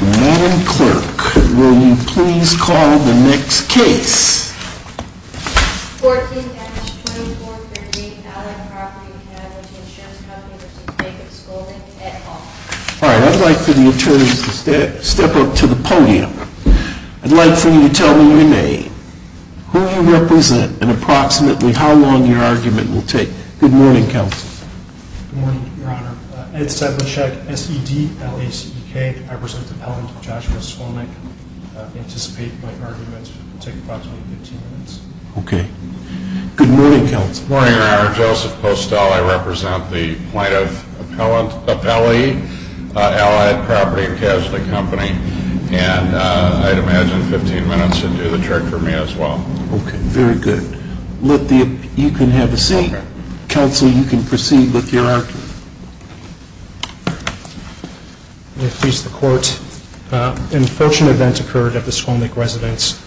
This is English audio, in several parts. Madam Clerk, will you please call the next case? 14-2438 Allard Property & Casualty Insurance Company v. Craig & Skolnick, Ed Hall. All right, I'd like for the attorneys to step up to the podium. I'd like for you to tell me your name, who you represent, and approximately how long your argument will take. Good morning, Counsel. Good morning, Your Honor. Ed Sedlacek, S-E-D-L-A-C-E-K. I represent the appellant, Joshua Skolnick. I anticipate my argument will take approximately 15 minutes. Okay. Good morning, Counsel. Good morning, Your Honor. Joseph Postal. I represent the plaintiff appellee, Allard Property & Casualty Company. And I'd imagine 15 minutes would do the trick for me as well. Okay, very good. You can have a seat. Counsel, you can proceed with your argument. May it please the Court, an unfortunate event occurred at the Skolnick residence.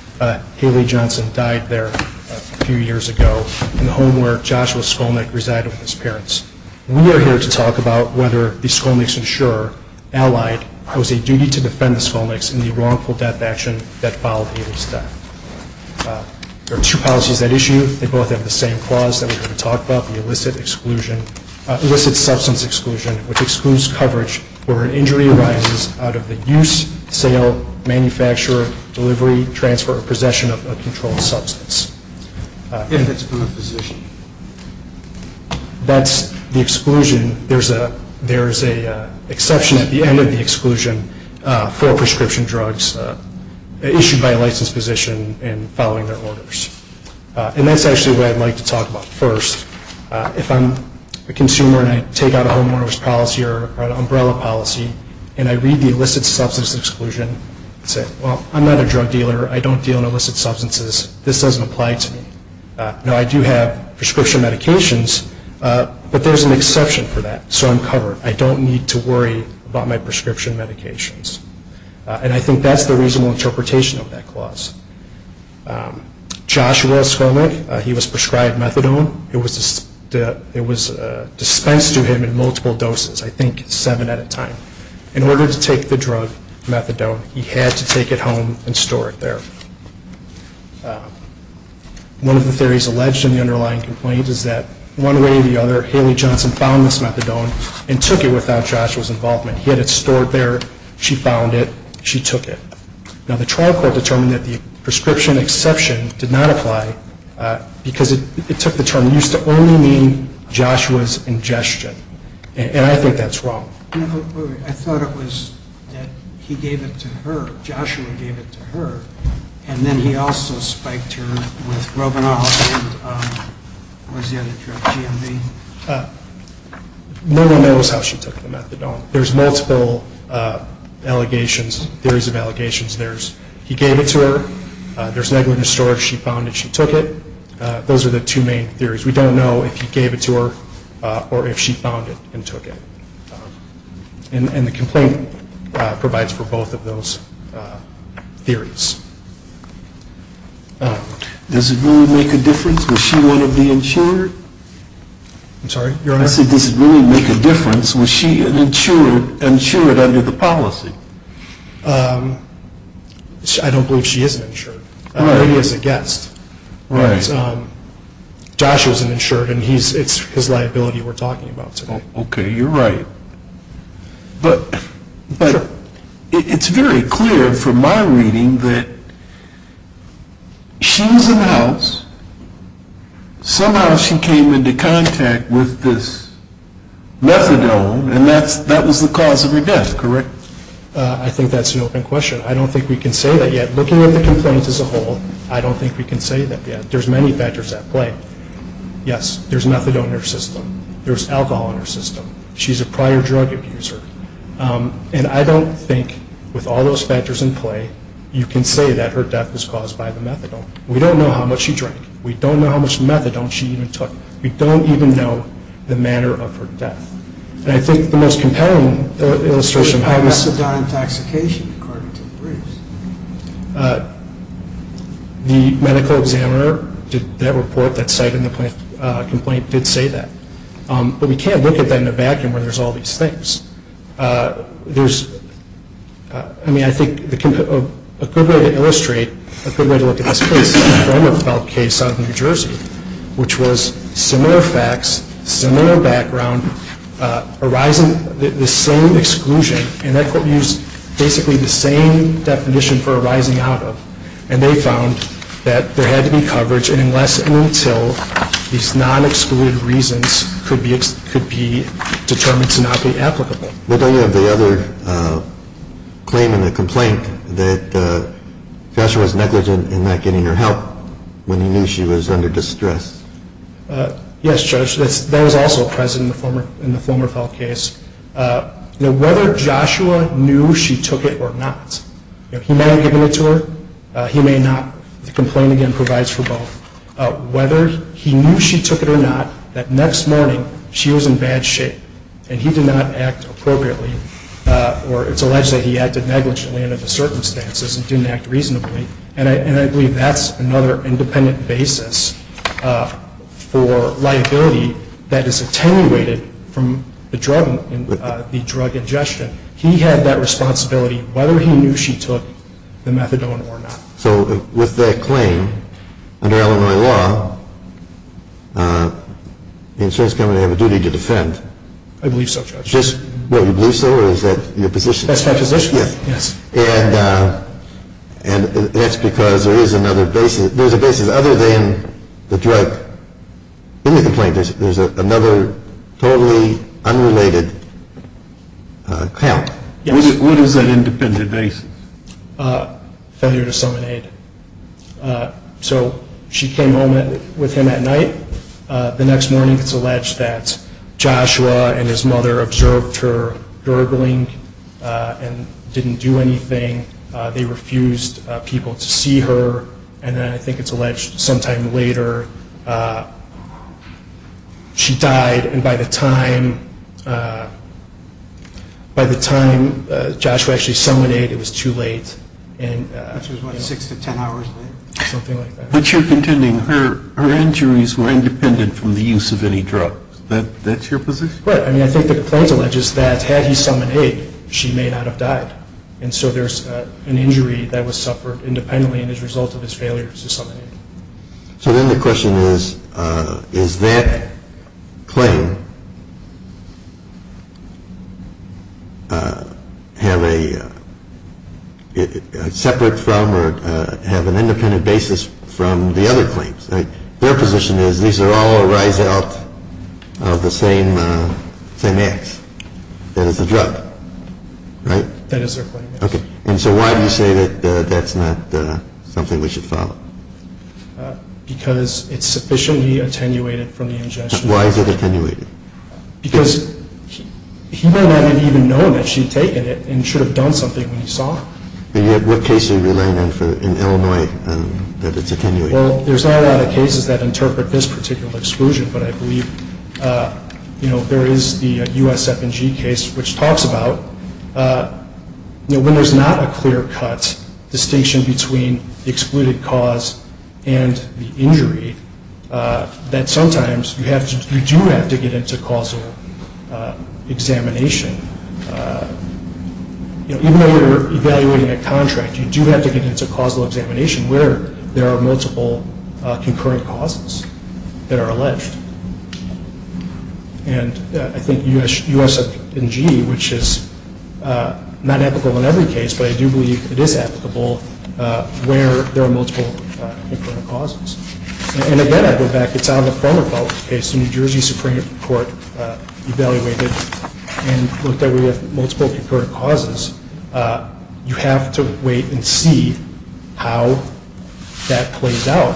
Haley Johnson died there a few years ago in the home where Joshua Skolnick resided with his parents. We are here to talk about whether the Skolnick's insurer, Allied, has a duty to defend the Skolnicks in the wrongful death action that followed Haley's death. There are two policies at issue. They both have the same clause that we're going to talk about, the illicit substance exclusion, which excludes coverage where an injury arises out of the use, sale, manufacture, delivery, transfer, or possession of a controlled substance. If it's by a physician. That's the exclusion. There is an exception at the end of the exclusion for prescription drugs issued by a licensed physician and following their orders. And that's actually what I'd like to talk about first. If I'm a consumer and I take out a homeowner's policy or an umbrella policy and I read the illicit substance exclusion and say, well, I'm not a drug dealer. I don't deal in illicit substances. This doesn't apply to me. Now, I do have prescription medications, but there's an exception for that, so I'm covered. I don't need to worry about my prescription medications. And I think that's the reasonable interpretation of that clause. Joshua Skolnik, he was prescribed methadone. It was dispensed to him in multiple doses, I think seven at a time. In order to take the drug, methadone, he had to take it home and store it there. One of the theories alleged in the underlying complaint is that one way or the other, Haley Johnson found this methadone and took it without Joshua's involvement. He had it stored there. She found it. She took it. Now, the trial court determined that the prescription exception did not apply because it took the term. It used to only mean Joshua's ingestion, and I think that's wrong. I thought it was that he gave it to her, Joshua gave it to her, and then he also spiked her with robinol and what was the other drug, GMV? No one knows how she took the methadone. There's multiple allegations, theories of allegations. There's he gave it to her. There's negligent storage. She found it. She took it. Those are the two main theories. We don't know if he gave it to her or if she found it and took it. And the complaint provides for both of those theories. Does it really make a difference? Was she one of the insured? I'm sorry? Your Honor? Does it really make a difference? Was she an insured under the policy? I don't believe she is an insured. He is a guest. Joshua is an insured, and it's his liability we're talking about today. Okay. You're right. But it's very clear from my reading that she was in the house. Somehow she came into contact with this methadone, and that was the cause of her death, correct? I think that's an open question. I don't think we can say that yet. Looking at the complaints as a whole, I don't think we can say that yet. There's many factors at play. Yes, there's methadone in her system. There's alcohol in her system. She's a prior drug abuser. And I don't think, with all those factors in play, you can say that her death was caused by the methadone. We don't know how much she drank. We don't know how much methadone she even took. We don't even know the manner of her death. And I think the most compelling illustration of how this… Methadone intoxication, according to the briefs. The medical examiner did that report that cited in the complaint did say that. But we can't look at that in a vacuum where there's all these things. I mean, I think a good way to illustrate, a good way to look at this case, is the former Felt case out of New Jersey, which was similar facts, similar background, the same exclusion. And that court used basically the same definition for arising out of. And they found that there had to be coverage, and unless and until these non-excluded reasons could be determined to not be applicable. Well, don't you have the other claim in the complaint that Joshua was negligent in not getting her help when he knew she was under distress? Yes, Judge. That was also present in the former Felt case. Whether Joshua knew she took it or not, he may have given it to her, he may not. The complaint, again, provides for both. Whether he knew she took it or not, that next morning she was in bad shape, and he did not act appropriately, or it's alleged that he acted negligently under the circumstances and didn't act reasonably. And I believe that's another independent basis for liability that is attenuated from the drug ingestion. He had that responsibility, whether he knew she took the methadone or not. So with that claim, under Illinois law, the insurance company has a duty to defend. I believe so, Judge. You believe so, or is that your position? That's my position, yes. And that's because there is another basis. There's a basis other than the drug in the complaint. There's another totally unrelated count. What is that independent basis? Failure to summon aid. So she came home with him at night. The next morning it's alleged that Joshua and his mother observed her gurgling and didn't do anything. They refused people to see her. And then I think it's alleged sometime later she died. And by the time Joshua actually summoned aid, it was too late. Which was what, six to ten hours late? Something like that. But you're contending her injuries were independent from the use of any drugs. That's your position? Right. I mean, I think the complaint alleges that had he summoned aid, she may not have died. And so there's an injury that was suffered independently as a result of his failure to summon aid. So then the question is, is that claim separate from or have an independent basis from the other claims? Their position is these are all a rise out of the same ax. That is the drug. Right? That is their claim. Okay. And so why do you say that that's not something we should follow? Because it's sufficiently attenuated from the ingestion. Why is it attenuated? Because he may not have even known that she had taken it and should have done something when he saw her. And yet what case are you relaying then in Illinois that it's attenuated? Well, there's not a lot of cases that interpret this particular exclusion, but I believe there is the USF&G case which talks about when there's not a clear-cut distinction between the excluded cause and the injury, that sometimes you do have to get into causal examination. Even though you're evaluating a contract, you do have to get into causal examination where there are multiple concurrent causes that are alleged. And I think USF&G, which is not applicable in every case, but I do believe it is applicable where there are multiple concurrent causes. And again, I go back. It's out of the former public case. The New Jersey Supreme Court evaluated and looked at where you have multiple concurrent causes. You have to wait and see how that plays out.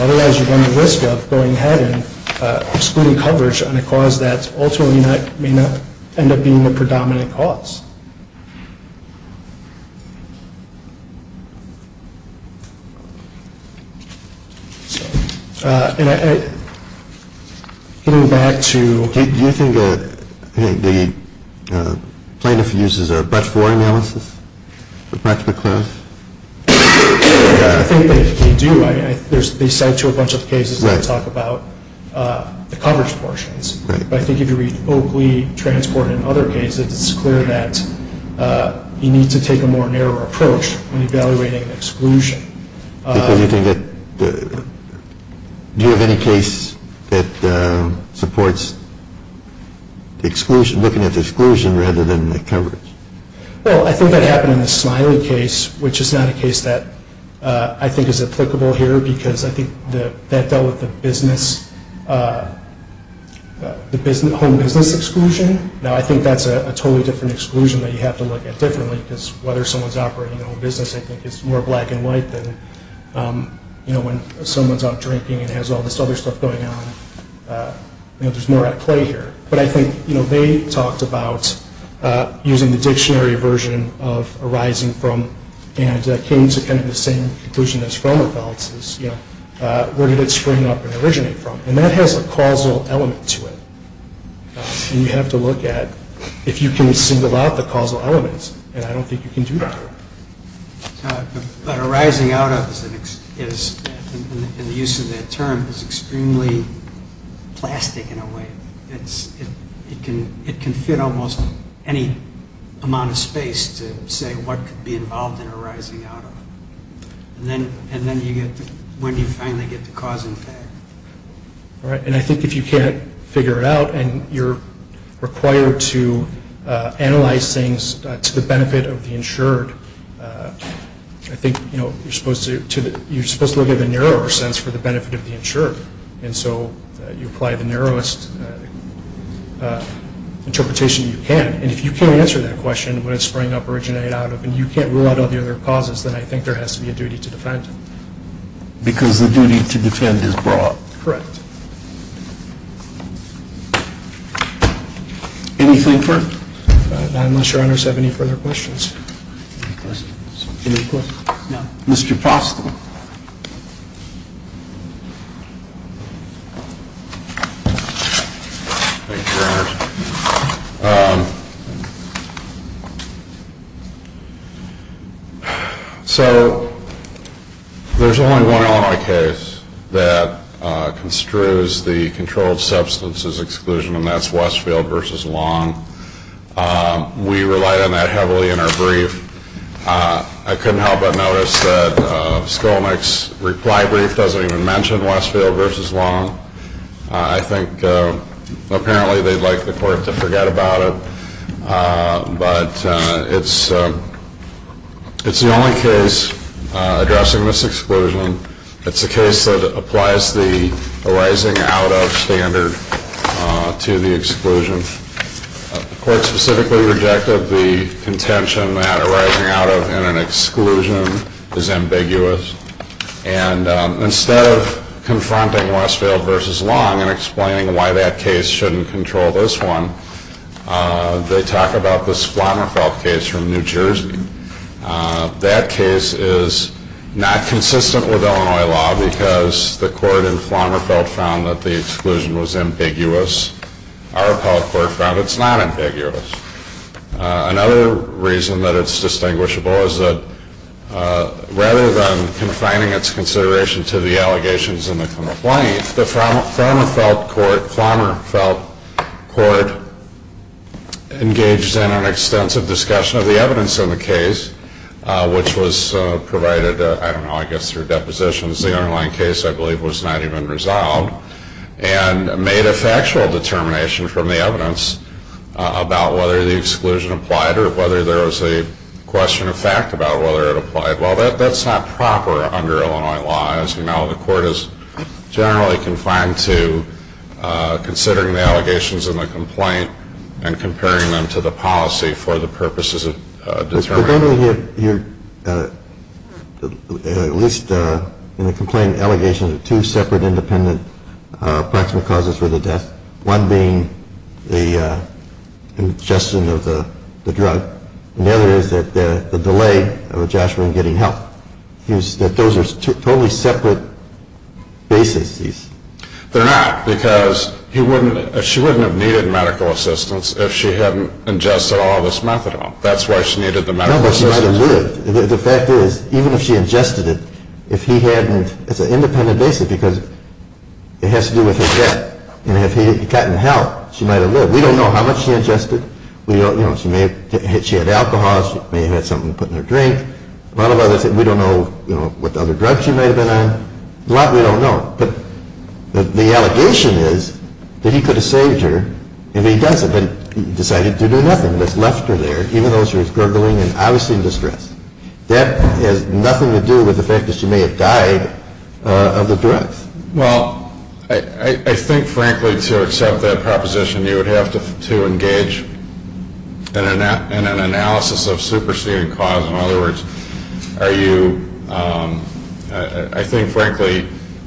Otherwise, you run the risk of going ahead and excluding coverage on a cause that ultimately may not end up being the predominant cause. And getting back to… Do you think the plaintiff uses a Brecht IV analysis for Brecht McLean? I think that they do. They cite a bunch of cases that talk about the coverage portions. But I think if you read Oakley Transport and other cases, it's clear that you need to take a more narrow approach when evaluating exclusion. Do you have any case that supports looking at the exclusion rather than the coverage? Well, I think that happened in the Smiley case, which is not a case that I think is applicable here because I think that dealt with the home business exclusion. Now, I think that's a totally different exclusion that you have to look at differently because whether someone's operating a home business I think is more black and white than when someone's out drinking and has all this other stuff going on. There's more at play here. But I think they talked about using the dictionary version of arising from and came to kind of the same conclusion as Romerfeld's. Where did it spring up and originate from? And that has a causal element to it. And you have to look at if you can single out the causal elements, and I don't think you can do that here. But arising out of is, in the use of that term, is extremely plastic in a way. It can fit almost any amount of space to say what could be involved in arising out of. And then you get to when you finally get to cause and effect. All right, and I think if you can't figure it out and you're required to analyze things to the benefit of the insured, I think you're supposed to look at the narrower sense for the benefit of the insured. And so you apply the narrowest interpretation you can. And if you can't answer that question, what did spring up, originate out of, and you can't rule out all the other causes, then I think there has to be a duty to defend. Because the duty to defend is brought. Correct. Anything further? Not unless your honors have any further questions. Thank you, your honors. Thank you. So there's only one Illinois case that construes the controlled substances exclusion, and that's Westfield v. Long. We relied on that heavily in our brief. I couldn't help but notice that Skolnik's reply brief doesn't even mention Westfield v. Long. I think apparently they'd like the court to forget about it. But it's the only case addressing this exclusion. It's a case that applies the arising out of standard to the exclusion. The court specifically rejected the contention that arising out of in an exclusion is ambiguous. And instead of confronting Westfield v. Long and explaining why that case shouldn't control this one, they talk about this Flommerfeld case from New Jersey. That case is not consistent with Illinois law because the court in Flommerfeld found that the exclusion was ambiguous. Our appellate court found it's not ambiguous. Another reason that it's distinguishable is that rather than confining its consideration to the allegations and the complaint, the Flommerfeld court engaged in an extensive discussion of the evidence in the case, which was provided, I don't know, I guess through depositions. The underlying case, I believe, was not even resolved, and made a factual determination from the evidence about whether the exclusion applied or whether there was a question of fact about whether it applied. Well, that's not proper under Illinois law, as you know. The court is generally confined to considering the allegations in the complaint and comparing them to the policy for the purposes of determining. I don't know if you're at least in the complaint allegations of two separate independent approximate causes for the death, one being the ingestion of the drug, and the other is that the delay of a joshua in getting help. Those are totally separate bases. They're not because she wouldn't have needed medical assistance if she hadn't ingested all this methadone. That's why she needed the medical assistance. No, but she might have lived. The fact is, even if she ingested it, if he hadn't, it's an independent basis because it has to do with her death. And if he hadn't gotten help, she might have lived. We don't know how much she ingested. She had alcohol, she may have had something to put in her drink. A lot of others, we don't know what other drugs she might have been on. A lot we don't know. But the allegation is that he could have saved her if he doesn't, but he decided to do nothing. And what's left of there, even though she was gurgling and obviously in distress, that has nothing to do with the fact that she may have died of the drugs. Well, I think, frankly, to accept that proposition, you would have to engage in an analysis of superseding cause. In other words, are you ‑‑ I think, frankly,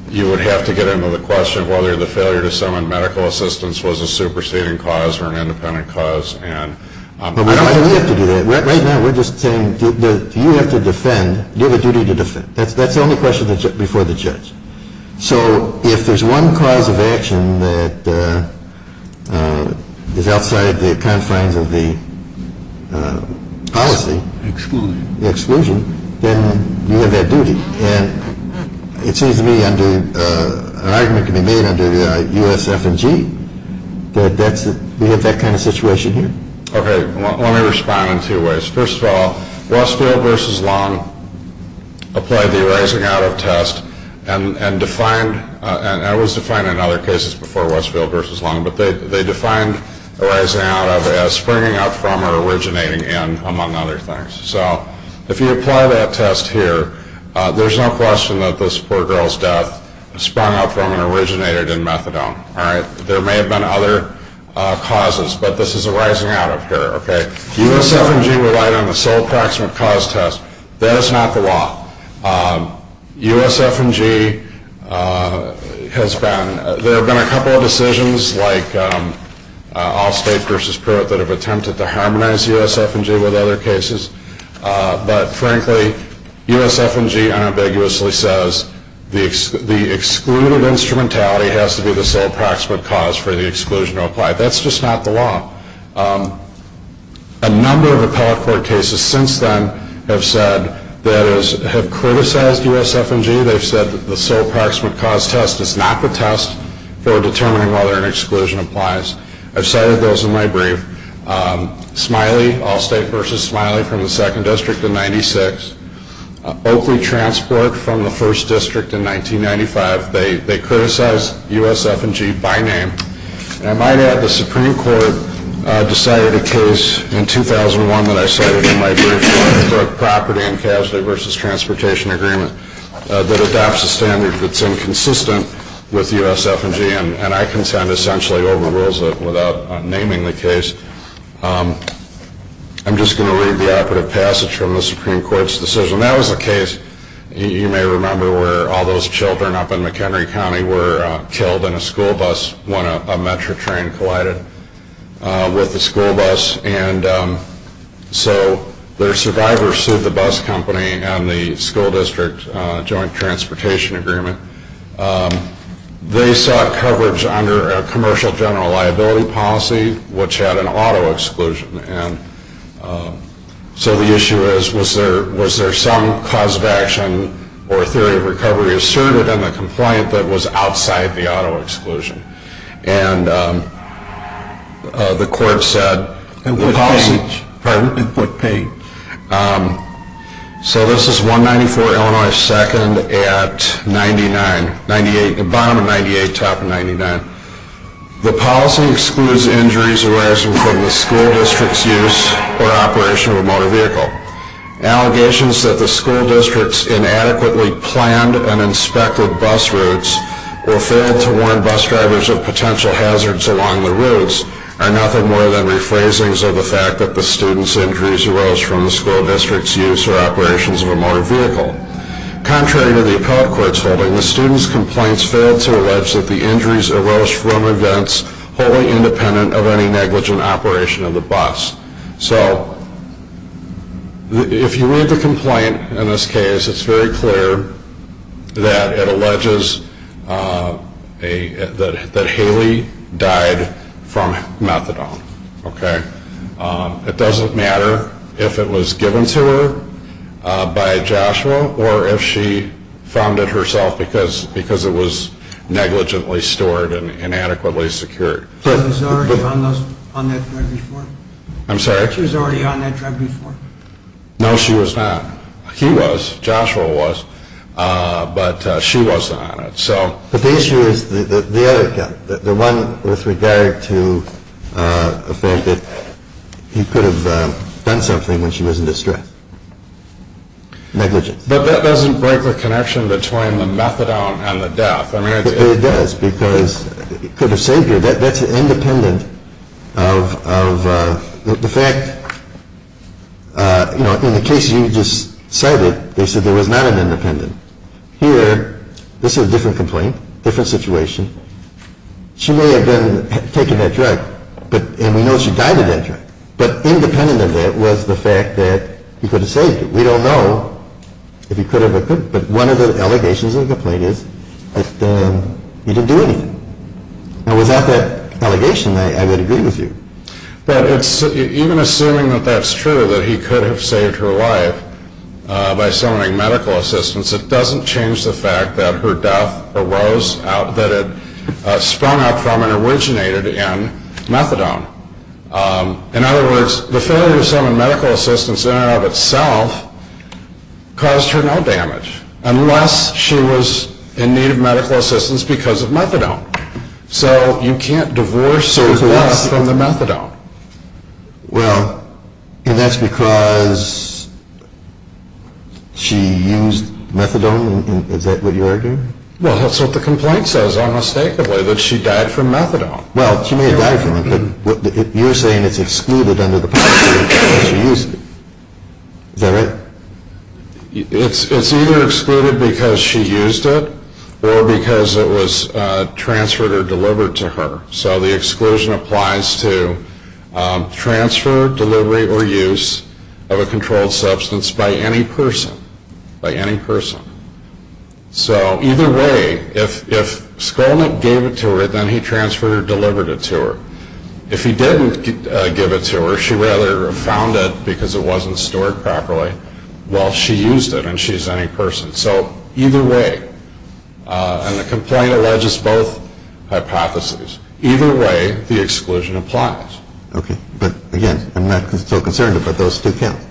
you would have to get into the question of whether the failure to summon medical assistance was a superseding cause or an independent cause. But why do we have to do that? Right now we're just saying that you have to defend, you have a duty to defend. That's the only question before the judge. So if there's one cause of action that is outside the confines of the policy, exclusion, then you have that duty. And it seems to me an argument can be made under USF&G that we have that kind of situation here. Okay, let me respond in two ways. First of all, Westfield v. Long applied the arising out of test and defined, and it was defined in other cases before Westfield v. Long, but they defined arising out of as springing up from or originating in, among other things. So if you apply that test here, there's no question that this poor girl's death sprung up from and originated in methadone, all right? There may have been other causes, but this is arising out of here, okay? USF&G relied on the sole approximate cause test. That is not the law. USF&G has been ‑‑ there have been a couple of decisions like Allstate v. Pruitt that have attempted to harmonize USF&G with other cases, but frankly USF&G unambiguously says the excluded instrumentality has to be the sole approximate cause for the exclusion to apply. That's just not the law. A number of appellate court cases since then have said that is, have criticized USF&G. They've said that the sole approximate cause test is not the test for determining whether an exclusion applies. I've cited those in my brief. Smiley, Allstate v. Smiley from the 2nd District in 1996. Oakley Transport from the 1st District in 1995. They criticized USF&G by name. And I might add the Supreme Court decided a case in 2001 that I cited in my brief for property and casualty v. transportation agreement that adopts a standard that's inconsistent with USF&G and I consent essentially overrules it without naming the case. I'm just going to read the operative passage from the Supreme Court's decision. That was a case, you may remember, where all those children up in McHenry County were killed in a school bus when a Metro train collided with the school bus. And so their survivor sued the bus company and the school district joint transportation agreement. They sought coverage under a commercial general liability policy, which had an auto exclusion. And so the issue is, was there some cause of action or theory of recovery asserted in the compliant that was outside the auto exclusion? And the court said... In what page? Pardon? In what page? So this is 194 Illinois 2nd at 98, bottom of 98, top of 99. The policy excludes injuries arising from the school district's use or operation of a motor vehicle. Allegations that the school district's inadequately planned and inspected bus routes were failed to warn bus drivers of potential hazards along the routes are nothing more than rephrasings of the fact that the student's injuries arose from the school district's use or operations of a motor vehicle. Contrary to the appellate court's holding, the student's complaints failed to allege that the injuries arose from events wholly independent of any negligent operation of the bus. So if you read the complaint in this case, it's very clear that it alleges that Haley died from methadone. It doesn't matter if it was given to her by Joshua or if she found it herself because it was negligently stored and inadequately secured. She was already on that drug before? I'm sorry? She was already on that drug before? No, she was not. He was. Joshua was. But she wasn't on it. But the issue is the other gun, the one with regard to the fact that he could have done something when she was in distress. Negligence. But that doesn't break the connection between the methadone and the death. It does because he could have saved her. That's independent of the fact, you know, in the case you just cited, they said there was not an independent. Here, this is a different complaint, different situation. She may have been taking that drug and we know she died of that drug. But independent of that was the fact that he could have saved her. We don't know if he could have, but one of the allegations of the complaint is that he didn't do anything. And without that allegation, I would agree with you. But even assuming that that's true, that he could have saved her life by summoning medical assistance, it doesn't change the fact that her death arose out, that it sprung out from and originated in methadone. In other words, the failure to summon medical assistance in and of itself caused her no damage, unless she was in need of medical assistance because of methadone. So you can't divorce her death from the methadone. Well, and that's because she used methadone? Is that what you're arguing? Well, that's what the complaint says, unmistakably, that she died from methadone. Well, she may have died from it, but you're saying it's excluded under the policy because she used it. Is that right? It's either excluded because she used it or because it was transferred or delivered to her. So the exclusion applies to transfer, delivery, or use of a controlled substance by any person, by any person. So either way, if Skolnick gave it to her, then he transferred or delivered it to her. If he didn't give it to her, she rather found it because it wasn't stored properly, while she used it and she's any person. So either way, and the complaint alleges both hypotheses, either way the exclusion applies. Okay, but again, I'm not so concerned about those two counts.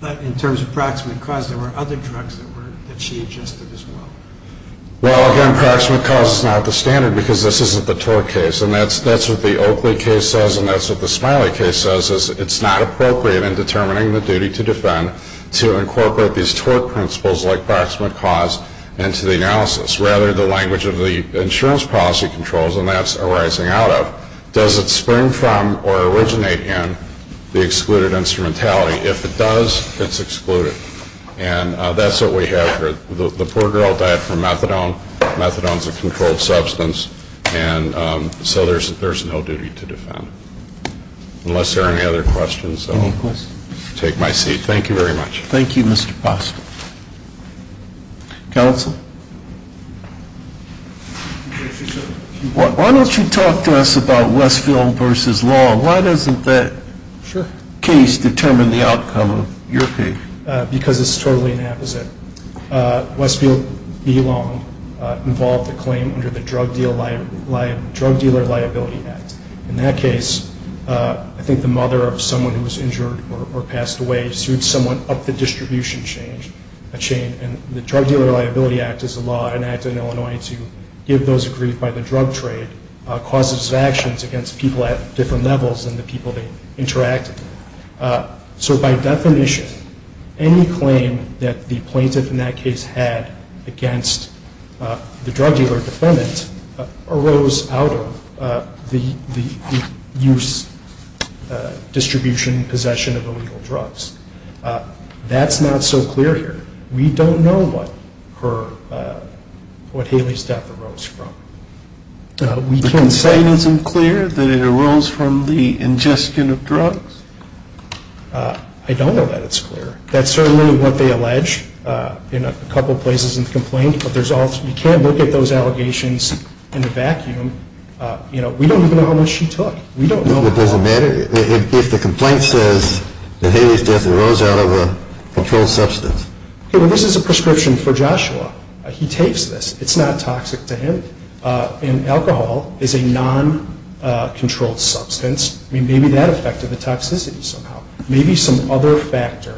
But in terms of proximate cause, there were other drugs that she adjusted as well. Well, again, proximate cause is not the standard because this isn't the tort case. And that's what the Oakley case says and that's what the Smiley case says, is it's not appropriate in determining the duty to defend to incorporate these tort principles like proximate cause into the analysis. Rather, the language of the insurance policy controls, and that's arising out of, does it spring from or originate in the excluded instrumentality? If it does, it's excluded. And that's what we have here. The poor girl died from methadone. Methadone is a controlled substance, and so there's no duty to defend. Unless there are any other questions, I'll take my seat. Thank you very much. Thank you, Mr. Foster. Counsel? Why don't you talk to us about Westfield v. Long? Why doesn't that case determine the outcome of your case? Because it's totally the opposite. Westfield v. Long involved a claim under the Drug Dealer Liability Act. In that case, I think the mother of someone who was injured or passed away sued someone up the distribution chain, and the Drug Dealer Liability Act is a law enacted in Illinois to give those aggrieved by the drug trade causes of actions against people at different levels than the people they interacted with. So by definition, any claim that the plaintiff in that case had against the drug dealer defendant arose out of the use, distribution, possession of illegal drugs. That's not so clear here. We don't know what Haley's death arose from. The complaint isn't clear that it arose from the ingestion of drugs? I don't know that it's clear. That's certainly what they allege in a couple places in the complaint, but you can't look at those allegations in a vacuum. We don't even know how much she took. It doesn't matter if the complaint says that Haley's death arose out of a controlled substance. This is a prescription for Joshua. He takes this. It's not toxic to him, and alcohol is a non-controlled substance. Maybe that affected the toxicity somehow. Maybe some other factor,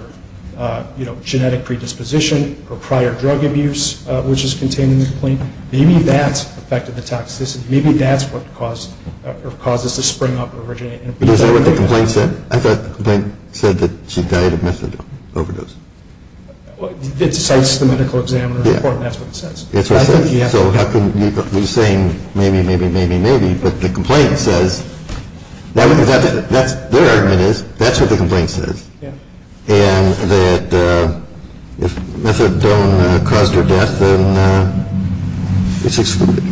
genetic predisposition or prior drug abuse, which is contained in the complaint, maybe that affected the toxicity. Maybe that's what caused this to spring up and originate. Is that what the complaint said? I thought the complaint said that she died of methadone overdose. It cites the medical examiner's report, and that's what it says. That's what it says. So how can you be saying maybe, maybe, maybe, maybe, but the complaint says that's what the complaint says. And that if methadone caused her death, then it's excluded.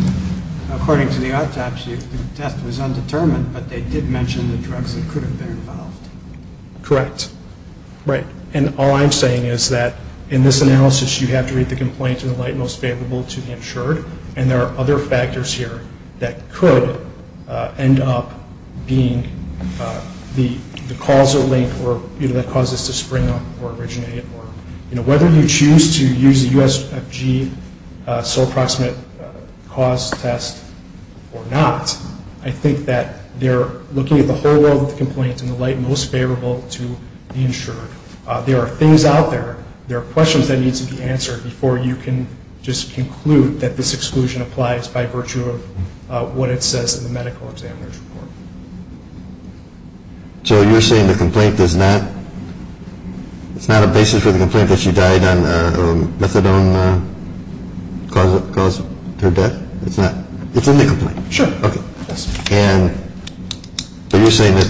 According to the autopsy, the test was undetermined, but they did mention the drugs that could have been involved. Correct. Right. And all I'm saying is that in this analysis, you have to read the complaint in the light most favorable to the insured, and there are other factors here that could end up being the causal link that caused this to spring up or originate. Whether you choose to use a USFG sole proximate cause test or not, I think that they're looking at the whole world of the complaint in the light most favorable to the insured. There are things out there, there are questions that need to be answered before you can just conclude that this exclusion applies by virtue of what it says in the medical examiner's report. So you're saying the complaint does not, it's not a basis for the complaint that she died on methadone caused her death? It's not, it's in the complaint? Sure. Okay. And, so you're saying that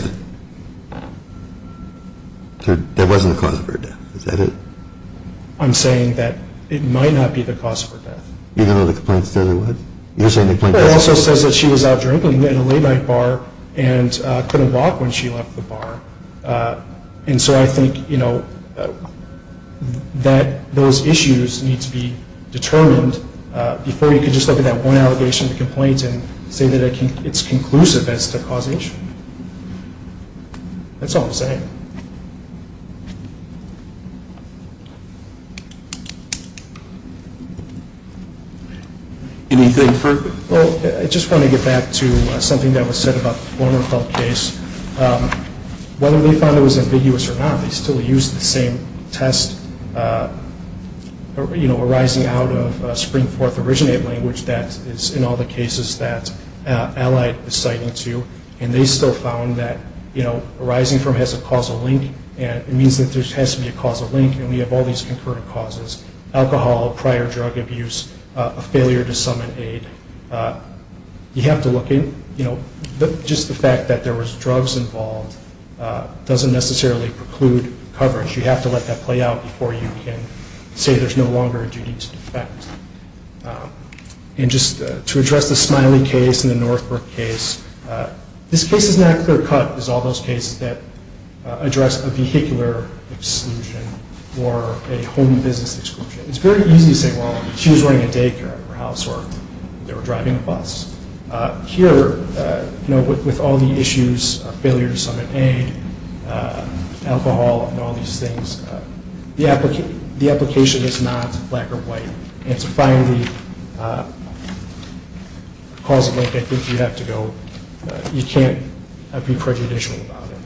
that wasn't the cause of her death, is that it? I'm saying that it might not be the cause of her death. You don't know what the complaint says it was? It also says that she was out drinking at a late night bar and couldn't walk when she left the bar. And so I think, you know, that those issues need to be determined before you can just look at that one allegation of the complaint and say that it's conclusive as to the cause of the issue. That's all I'm saying. Anything further? Well, I just want to get back to something that was said about the former Felt case. Whether they found it was ambiguous or not, they still used the same test, you know, arising out of Spring-Forth originate language that is in all the cases that Allied is citing to. And they still found that, you know, arising from his a cause of death, it means that there has to be a causal link, and we have all these concurrent causes. Alcohol, prior drug abuse, a failure to summon aid. You have to look at, you know, just the fact that there was drugs involved doesn't necessarily preclude coverage. You have to let that play out before you can say there's no longer a duty to defect. And just to address the Smiley case and the Northbrook case, this case is not clear-cut as all those cases that address a vehicular exclusion or a home business exclusion. It's very easy to say, well, she was running a daycare in her house or they were driving a bus. Here, you know, with all the issues of failure to summon aid, alcohol, and all these things, the application is not black or white. And to find the causal link, I think you have to go, you can't be prejudicial about it.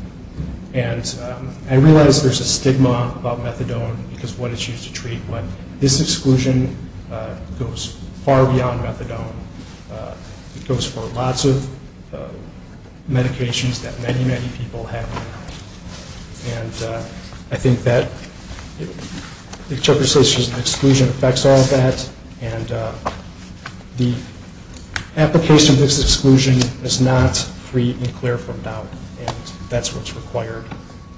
And I realize there's a stigma about methadone because of what it's used to treat, but this exclusion goes far beyond methadone. It goes for lots of medications that many, many people have. And I think that the exclusion affects all of that. And the application of this exclusion is not free and clear from doubt. And that's what's required.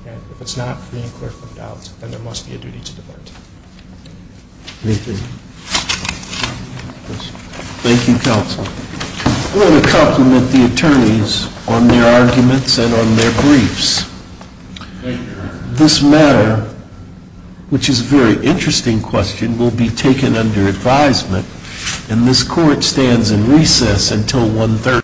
And if it's not free and clear from doubt, then there must be a duty to defect. Thank you, counsel. I want to compliment the attorneys on their arguments and on their briefs. This matter, which is a very interesting question, will be taken under advisement. And this court stands in recess until 1.30.